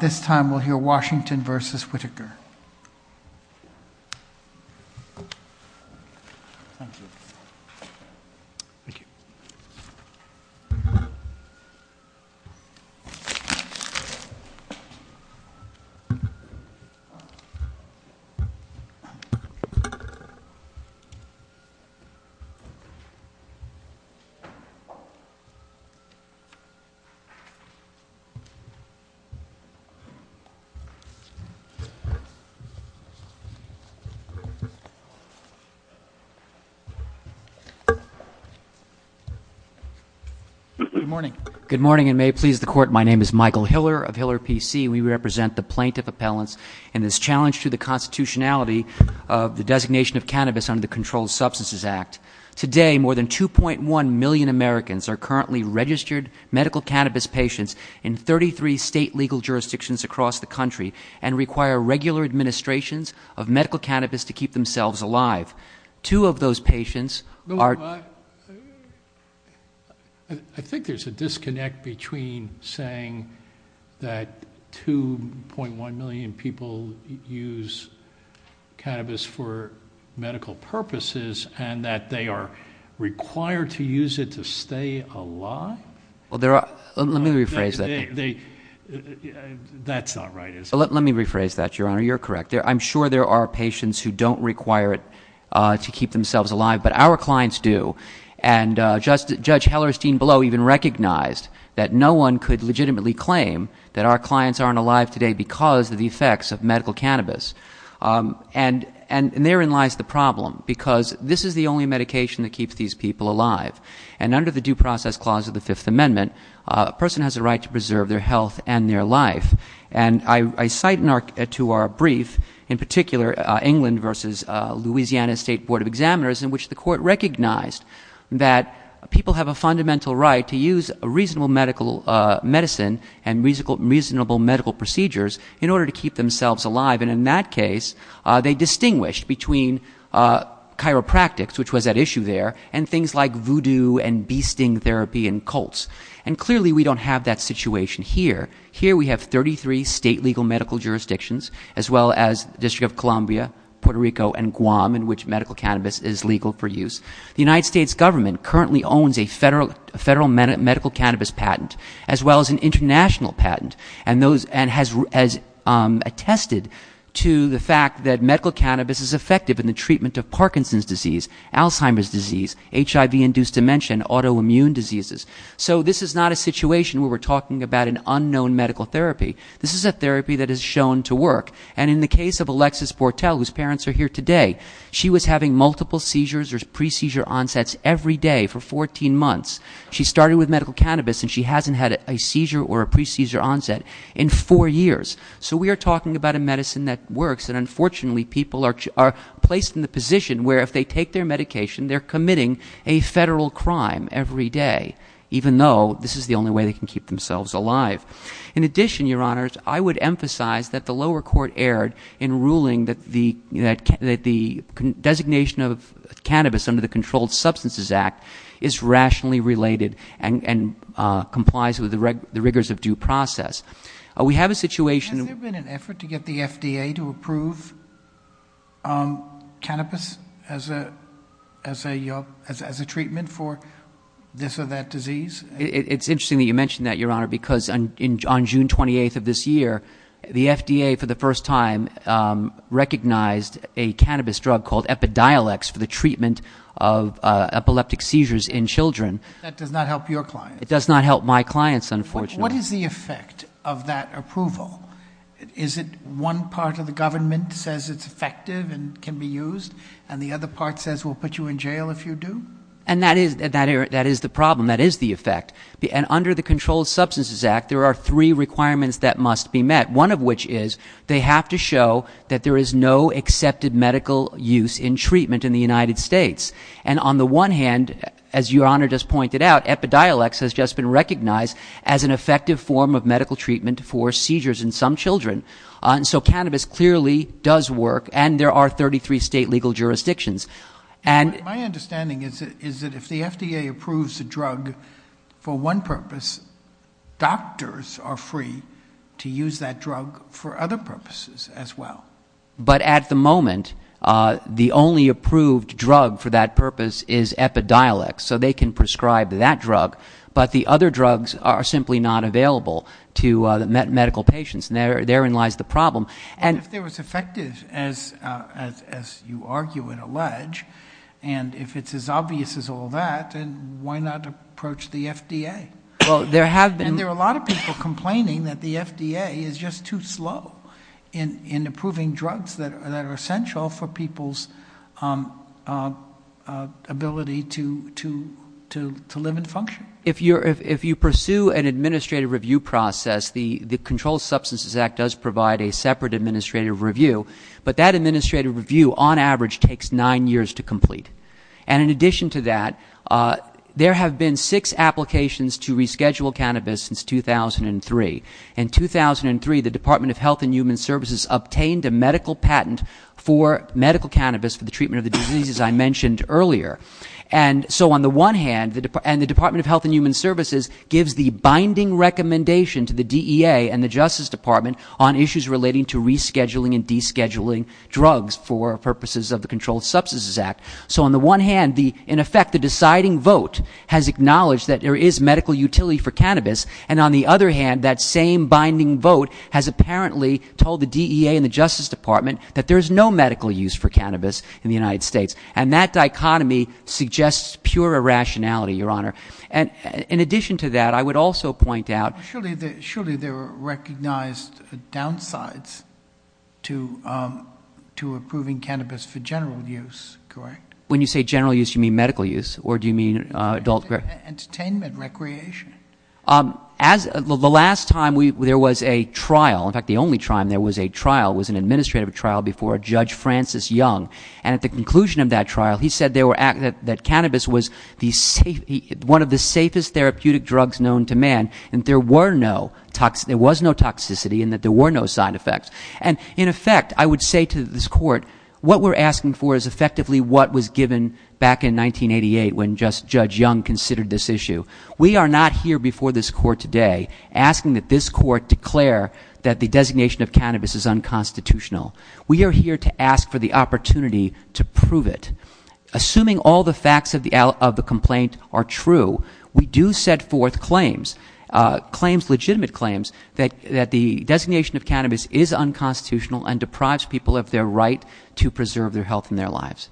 This time we'll hear Washington v. Whitaker. Michael Hiller of Hiller, P.C. We represent the plaintiff appellants in this challenge to the constitutionality of the designation of cannabis under the Controlled Substances Act. Today, more than 2.1 million Americans are currently registered medical cannabis patients in 33 state legal jurisdictions across the country and require regular administrations of medical cannabis to keep themselves alive. Two of those patients are... I think there's a disconnect between saying that 2.1 million people use cannabis for medical purposes and that they are required to use it to stay alive. Let me rephrase that. That's not right, is it? Let me rephrase that, Your Honor. You're correct. I'm sure there are patients who don't require it to keep themselves alive, but our clients do. And Judge Hellerstein-Below even recognized that no one could legitimately claim that our clients aren't alive today because of the effects of medical cannabis. And therein lies the problem, because this is the only medication that keeps these people alive. And under the Due Process Clause of the Fifth Amendment, a person has a right to preserve their health and their life. And I cite to our brief, in particular, England v. Louisiana State Board of Examiners, in which the court recognized that people have a fundamental right to use reasonable medicine and reasonable medical procedures in order to keep themselves alive. And in that case, they distinguished between chiropractics, which was at issue there, and things like voodoo and bee sting therapy and colts. And clearly we don't have that situation here. Here we have 33 state legal medical jurisdictions, as well as the District of Columbia, Puerto Rico, and Guam, in which medical cannabis is legal for use. The United States government currently owns a federal medical cannabis patent, as well as an international patent, and has attested to the fact that medical cannabis is effective in the treatment of Parkinson's disease, Alzheimer's disease, HIV-induced dementia, and autoimmune diseases. So this is not a situation where we're talking about an unknown medical therapy. This is a therapy that is shown to work. And in the case of Alexis Bortel, whose parents are here today, she was having multiple seizures or pre-seizure onsets every day for 14 months. She started with medical cannabis, and she hasn't had a seizure or a pre-seizure onset in four years. So we are talking about a medicine that works. And unfortunately, people are placed in the position where if they take their medication, they're committing a federal crime every day, even though this is the only way they can keep themselves alive. In addition, Your Honors, I would emphasize that the lower court erred in ruling that the designation of cannabis under the Controlled Substances Act is rationally related and complies with the rigors of due process. We have a situation- Has there been an effort to get the FDA to approve cannabis as a treatment for this or that disease? It's interesting that you mention that, Your Honor, because on June 28th of this year, the FDA, for the first time, recognized a cannabis drug called Epidiolex for the treatment of epileptic seizures in children. That does not help your clients. It does not help my clients, unfortunately. What is the effect of that approval? Is it one part of the government says it's effective and can be used, and the other part says we'll put you in jail if you do? And that is the problem. That is the effect. And under the Controlled Substances Act, there are three requirements that must be met, one of which is they have to show that there is no accepted medical use in treatment in the United States. And on the one hand, as Your Honor just pointed out, Epidiolex has just been recognized as an effective form of medical treatment for seizures in some children. So cannabis clearly does work, and there are 33 state legal jurisdictions. My understanding is that if the FDA approves a drug for one purpose, doctors are free to use that drug for other purposes as well. But at the moment, the only approved drug for that purpose is Epidiolex, so they can prescribe that drug, but the other drugs are simply not available to medical patients, and therein lies the problem. And if they're as effective as you argue and allege, and if it's as obvious as all that, then why not approach the FDA? Well, there have been... And there are a lot of people complaining that the FDA is just too slow in approving drugs that are essential for people's ability to live and function. If you pursue an administrative review process, the Controlled Substances Act does provide a separate administrative review, but that administrative review, on average, takes nine years to complete. And in addition to that, there have been six applications to reschedule cannabis since 2003. In 2003, the Department of Health and Human Services obtained a medical patent for medical cannabis for the treatment of the diseases I mentioned earlier. And so on the one hand, and the Department of Health and Human Services gives the binding recommendation to the DEA and the Justice Department on issues relating to rescheduling and descheduling drugs for purposes of the Controlled Substances Act. So on the one hand, in effect, the deciding vote has acknowledged that there is medical utility for cannabis, and on the other hand, that same binding vote has apparently told the DEA and the Justice Department that there is no medical use for cannabis in the United States. And that dichotomy suggests pure irrationality, Your Honor. And in addition to that, I would also point out- Surely there are recognized downsides to approving cannabis for general use, correct? When you say general use, you mean medical use, or do you mean adult- Entertainment, recreation. The last time there was a trial, in fact, the only time there was a trial, was an administrative trial before Judge Francis Young. And at the conclusion of that trial, he said that cannabis was one of the safest therapeutic drugs known to man, and there was no toxicity, and that there were no side effects. And in effect, I would say to this Court, what we're asking for is effectively what was given back in 1988 when Judge Young considered this issue. We are not here before this Court today asking that this Court declare that the designation of cannabis is unconstitutional. We are here to ask for the opportunity to prove it. Assuming all the facts of the complaint are true, we do set forth claims, legitimate claims, that the designation of cannabis is unconstitutional and deprives people of their right to preserve their health and their lives.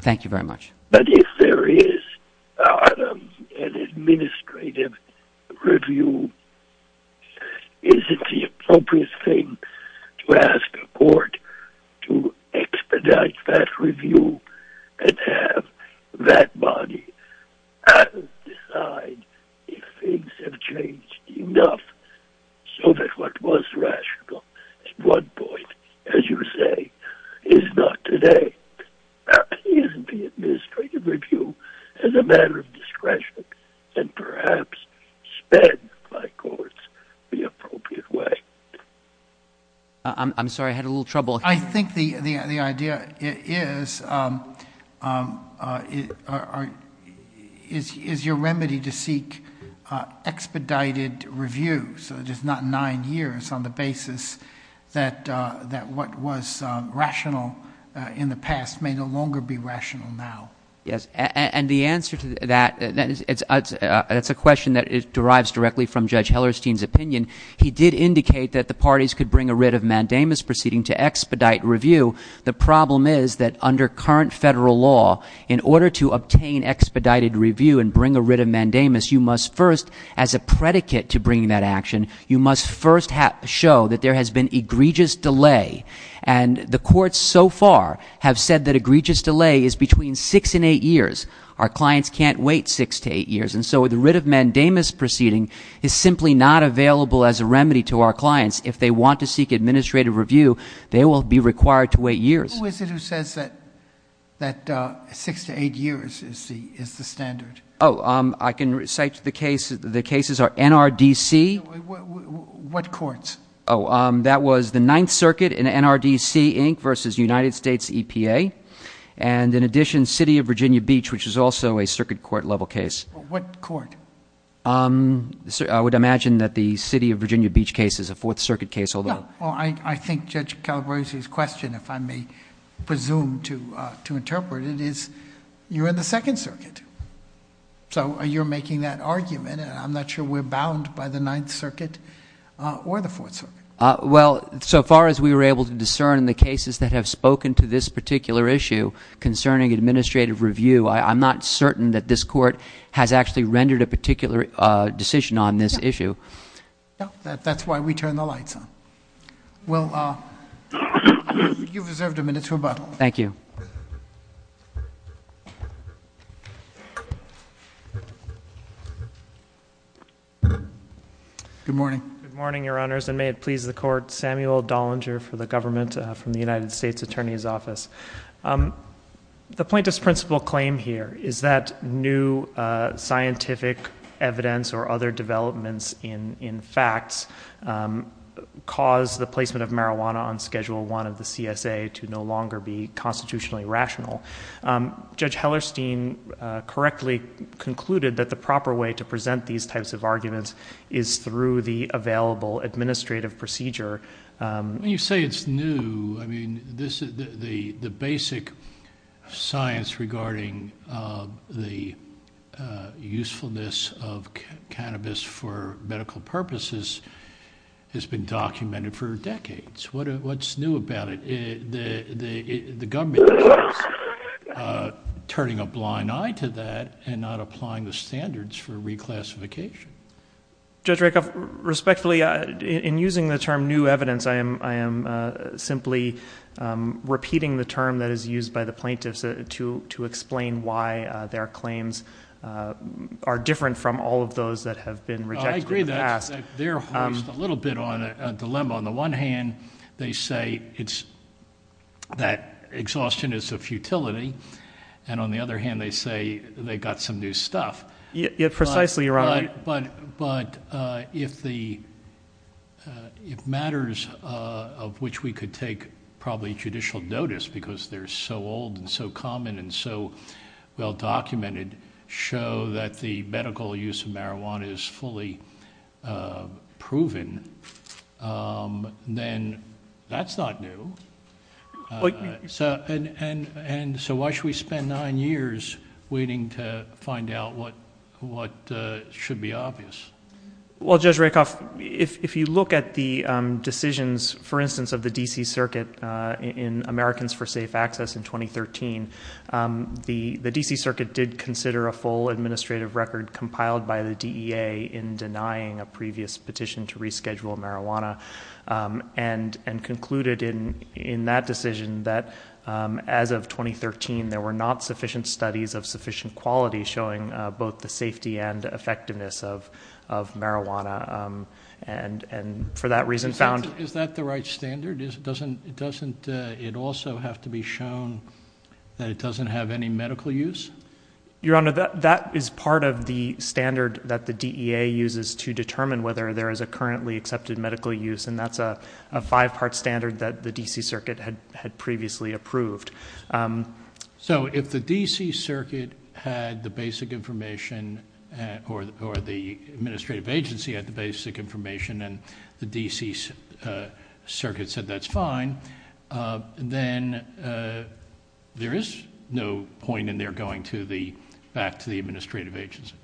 Thank you very much. But if there is an administrative review, is it the appropriate thing to ask a Court to expedite that review and have that body decide if things have changed enough so that what was rational at one point, as you say, is not today? Is the administrative review as a matter of discretion and perhaps sped by Courts the appropriate way? I'm sorry, I had a little trouble. I think the idea is, is your remedy to seek expedited review, so just not nine years on the basis that what was rational in the past may no longer be rational now. Yes, and the answer to that, that's a question that derives directly from Judge Hellerstein's opinion. He did indicate that the parties could bring a writ of mandamus proceeding to expedite review. The problem is that under current federal law, in order to obtain expedited review and bring a writ of mandamus, you must first, as a predicate to bringing that action, you must first show that there has been egregious delay. And the Courts so far have said that egregious delay is between six and eight years. Our clients can't wait six to eight years. And so the writ of mandamus proceeding is simply not available as a remedy to our clients. If they want to seek administrative review, they will be required to wait years. Who is it who says that six to eight years is the standard? Oh, I can cite the case. The cases are NRDC. What courts? Oh, that was the Ninth Circuit in NRDC, Inc., versus United States EPA. And in addition, City of Virginia Beach, which is also a circuit court-level case. What court? I would imagine that the City of Virginia Beach case is a Fourth Circuit case, although— Well, I think Judge Calabresi's question, if I may presume to interpret it, is you're in the Second Circuit. So you're making that argument, and I'm not sure we're bound by the Ninth Circuit or the Fourth Circuit. Well, so far as we were able to discern in the cases that have spoken to this particular issue concerning administrative review, I'm not certain that this Court has actually rendered a particular decision on this issue. That's why we turned the lights on. Well, you've reserved a minute to rebuttal. Thank you. Good morning. Good morning, Your Honors, and may it please the Court. Samuel Dollinger for the government from the United States Attorney's Office. The plaintiff's principal claim here is that new scientific evidence or other developments in facts caused the placement of marijuana on Schedule I of the CSA to no longer be constitutionally rational. Judge Hellerstein correctly concluded that the proper way to present these types of arguments is through the available administrative procedure. When you say it's new, I mean, the basic science regarding the usefulness of cannabis for medical purposes has been documented for decades. What's new about it? The government is turning a blind eye to that and not applying the standards for reclassification. Judge Rakoff, respectfully, in using the term new evidence, I am simply repeating the term that is used by the plaintiffs to explain why their claims are different from all of those that have been rejected in the past. I agree that. They're hoisting a little bit on a dilemma. On the one hand, they say that exhaustion is a futility, and on the other hand, they say they got some new stuff. Precisely, Your Honor. But if matters of which we could take probably judicial notice because they're so old and so common and so well documented show that the medical use of marijuana is fully proven, then that's not new. And so why should we spend nine years waiting to find out what should be obvious? Well, Judge Rakoff, if you look at the decisions, for instance, of the D.C. Circuit in Americans for Safe Access in 2013, the D.C. Circuit did consider a full administrative record compiled by the DEA in denying a previous petition to reschedule marijuana and concluded in that decision that as of 2013, there were not sufficient studies of sufficient quality showing both the safety and effectiveness of marijuana. And for that reason found- Is that the right standard? Doesn't it also have to be shown that it doesn't have any medical use? Your Honor, that is part of the standard that the DEA uses to determine whether there is a currently accepted medical use, and that's a five-part standard that the D.C. Circuit had previously approved. So if the D.C. Circuit had the basic information or the administrative agency had the basic information and the D.C. Circuit said that's fine, then there is no point in their going back to the administrative agency.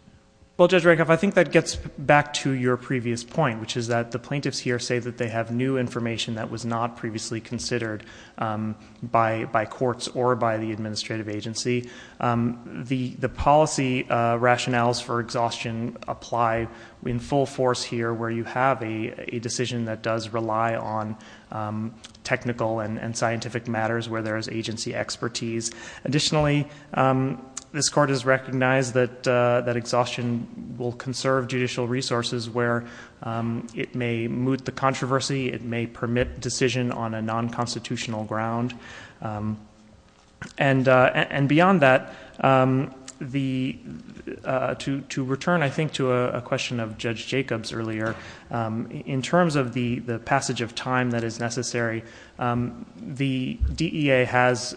Well, Judge Rakoff, I think that gets back to your previous point, which is that the plaintiffs here say that they have new information that was not previously considered by courts or by the administrative agency. The policy rationales for exhaustion apply in full force here, where you have a decision that does rely on technical and scientific matters where there is agency expertise. Additionally, this Court has recognized that exhaustion will conserve judicial resources where it may moot the controversy, it may permit decision on a non-constitutional ground. And beyond that, to return, I think, to a question of Judge Jacobs earlier, in terms of the passage of time that is necessary, the DEA has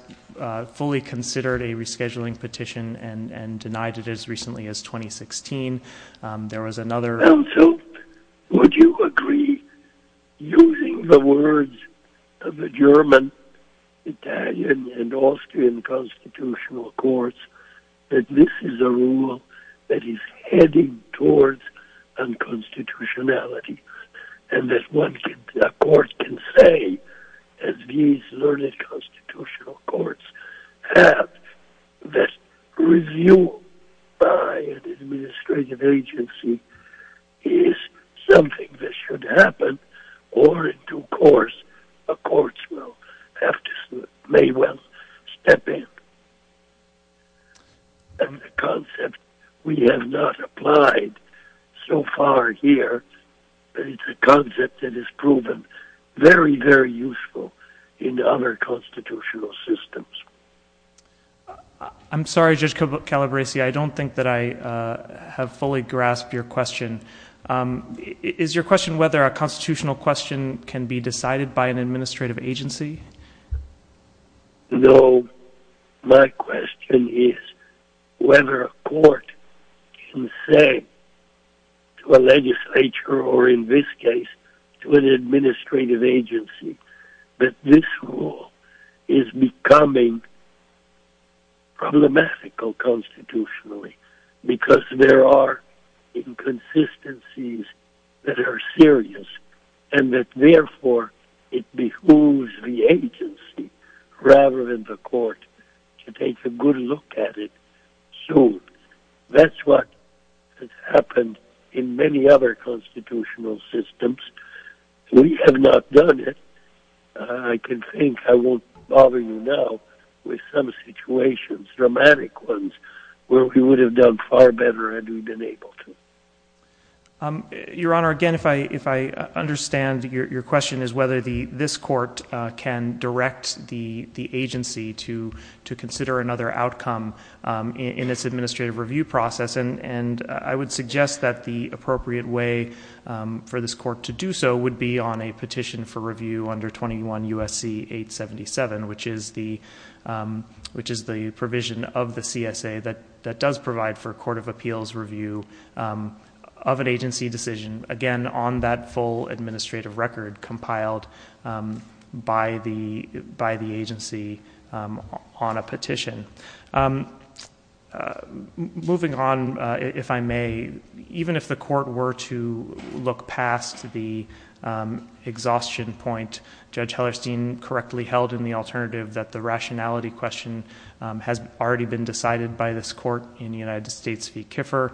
fully considered a rescheduling petition and denied it as recently as 2016. Counsel, would you agree, using the words of the German, Italian, and Austrian constitutional courts, that this is a rule that is heading towards unconstitutionality, and that a court can say, as these learned constitutional courts have, that review by an administrative agency is something that should happen, or in due course, a court may well have to step in? The concept we have not applied so far here is a concept that is proven very, very useful in other constitutional systems. I'm sorry, Judge Calabresi, I don't think that I have fully grasped your question. Is your question whether a constitutional question can be decided by an administrative agency? No, my question is whether a court can say to a legislature, or in this case, to an administrative agency, that this rule is becoming problematical constitutionally, because there are inconsistencies that are serious, and that therefore it behooves the agency, rather than the court, to take a good look at it soon. That's what has happened in many other constitutional systems. We have not done it. I can think, I won't bother you now, with some situations, dramatic ones, where we would have done far better had we been able to. Your Honor, again, if I understand, your question is whether this court can direct the agency to consider another outcome in its administrative review process, and I would suggest that the appropriate way for this court to do so would be on a petition for review under 21 U.S.C. 877, which is the provision of the CSA that does provide for a court of appeals review of an agency decision, again, on that full administrative record compiled by the agency on a petition. Moving on, if I may, even if the court were to look past the exhaustion point, Judge Hellerstein correctly held in the alternative that the rationality question has already been decided by this court in United States v. Kiffer.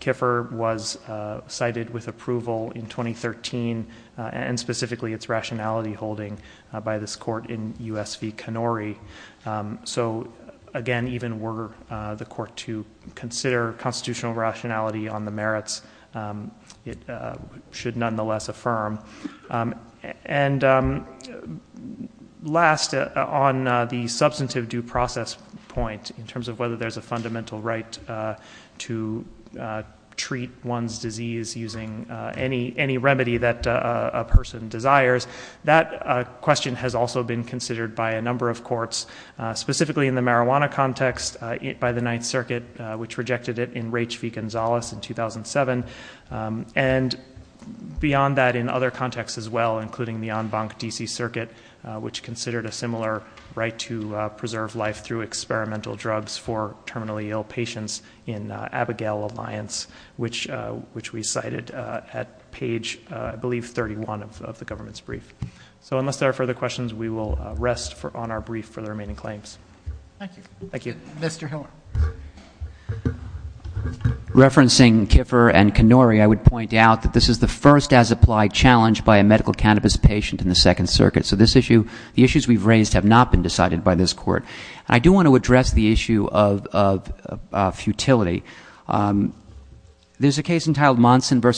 Kiffer was cited with approval in 2013, and specifically its rationality holding by this court in U.S. v. Kanori. So, again, even were the court to consider constitutional rationality on the merits, it should nonetheless affirm. And last, on the substantive due process point, in terms of whether there's a fundamental right to treat one's disease using any remedy that a person desires, that question has also been considered by a number of courts, specifically in the marijuana context by the Ninth Circuit, which rejected it in Raich v. Gonzalez in 2007, and beyond that in other contexts as well, including the en banc D.C. Circuit, which considered a similar right to preserve life through experimental drugs for terminally ill patients in Abigail Alliance, which we cited at page, I believe, 31 of the government's brief. So unless there are further questions, we will rest on our brief for the remaining claims. Thank you. Thank you. Mr. Heller. Referencing Kiffer and Kanori, I would point out that this is the first as-applied challenge by a medical cannabis patient in the Second Circuit, so the issues we've raised have not been decided by this court. And I do want to address the issue of futility. There's a case entitled Monson v.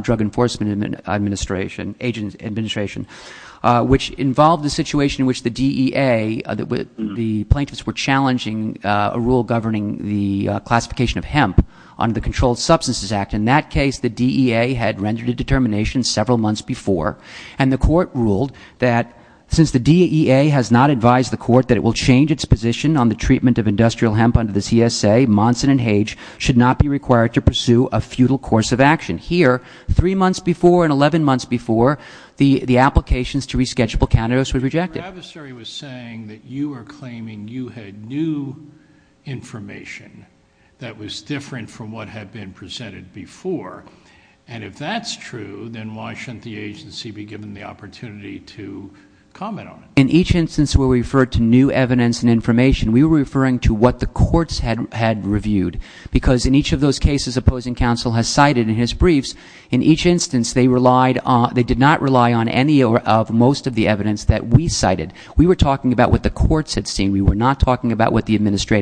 Drug Enforcement Administration, which involved the situation in which the DEA, the plaintiffs were challenging a rule governing the classification of hemp under the Controlled Substances Act. In that case, the DEA had rendered a determination several months before, and the court ruled that since the DEA has not advised the court that it will change its position on the treatment of industrial hemp under the CSA, Monson and Hage should not be required to pursue a futile course of action. Here, three months before and 11 months before, the applications to resketchable cannabis were rejected. Your adversary was saying that you were claiming you had new information that was different from what had been presented before. And if that's true, then why shouldn't the agency be given the opportunity to comment on it? In each instance we referred to new evidence and information. We were referring to what the courts had reviewed, because in each of those cases opposing counsel has cited in his briefs, in each instance they did not rely on any or most of the evidence that we cited. We were talking about what the courts had seen.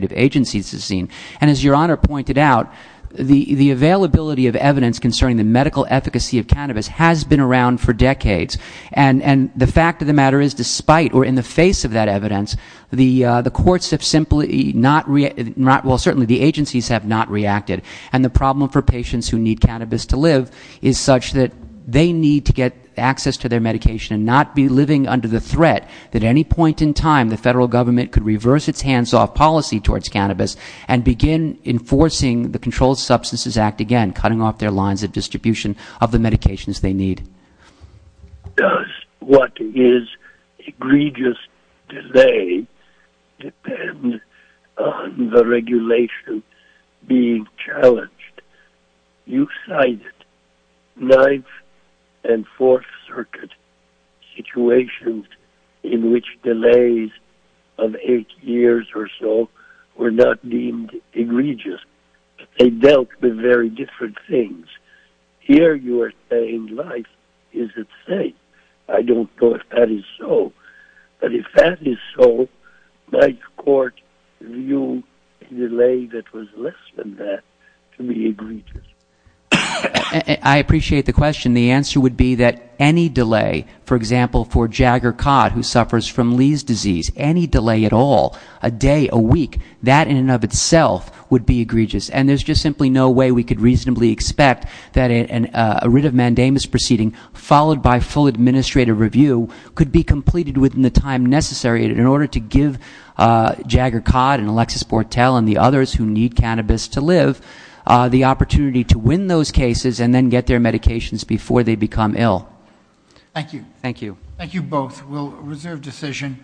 And as Your Honor pointed out, the availability of evidence concerning the medical efficacy of cannabis has been around for decades. And the fact of the matter is, despite or in the face of that evidence, the courts have simply not, well, certainly the agencies have not reacted. And the problem for patients who need cannabis to live is such that they need to get access to their medication and not be living under the threat that at any point in time the federal government could reverse its hands-off policy towards cannabis and begin enforcing the Controlled Substances Act again, cutting off their lines of distribution of the medications they need. Does what is egregious delay depend on the regulation being challenged? You cited Ninth and Fourth Circuit situations in which delays of eight years or so were not deemed egregious. They dealt with very different things. Here you are saying life is at stake. I don't know if that is so. But if that is so, might the court view a delay that was less than that to be egregious? I appreciate the question. The answer would be that any delay, for example, for Jagger Codd, who suffers from Lee's disease, any delay at all, a day, a week, that in and of itself would be egregious. And there's just simply no way we could reasonably expect that a writ of mandamus proceeding, followed by full administrative review, could be completed within the time necessary in order to give Jagger Codd and Alexis Bortel and the others who need cannabis to live the opportunity to win those cases and then get their medications before they become ill. Thank you. Thank you. Thank you both. We'll reserve decision.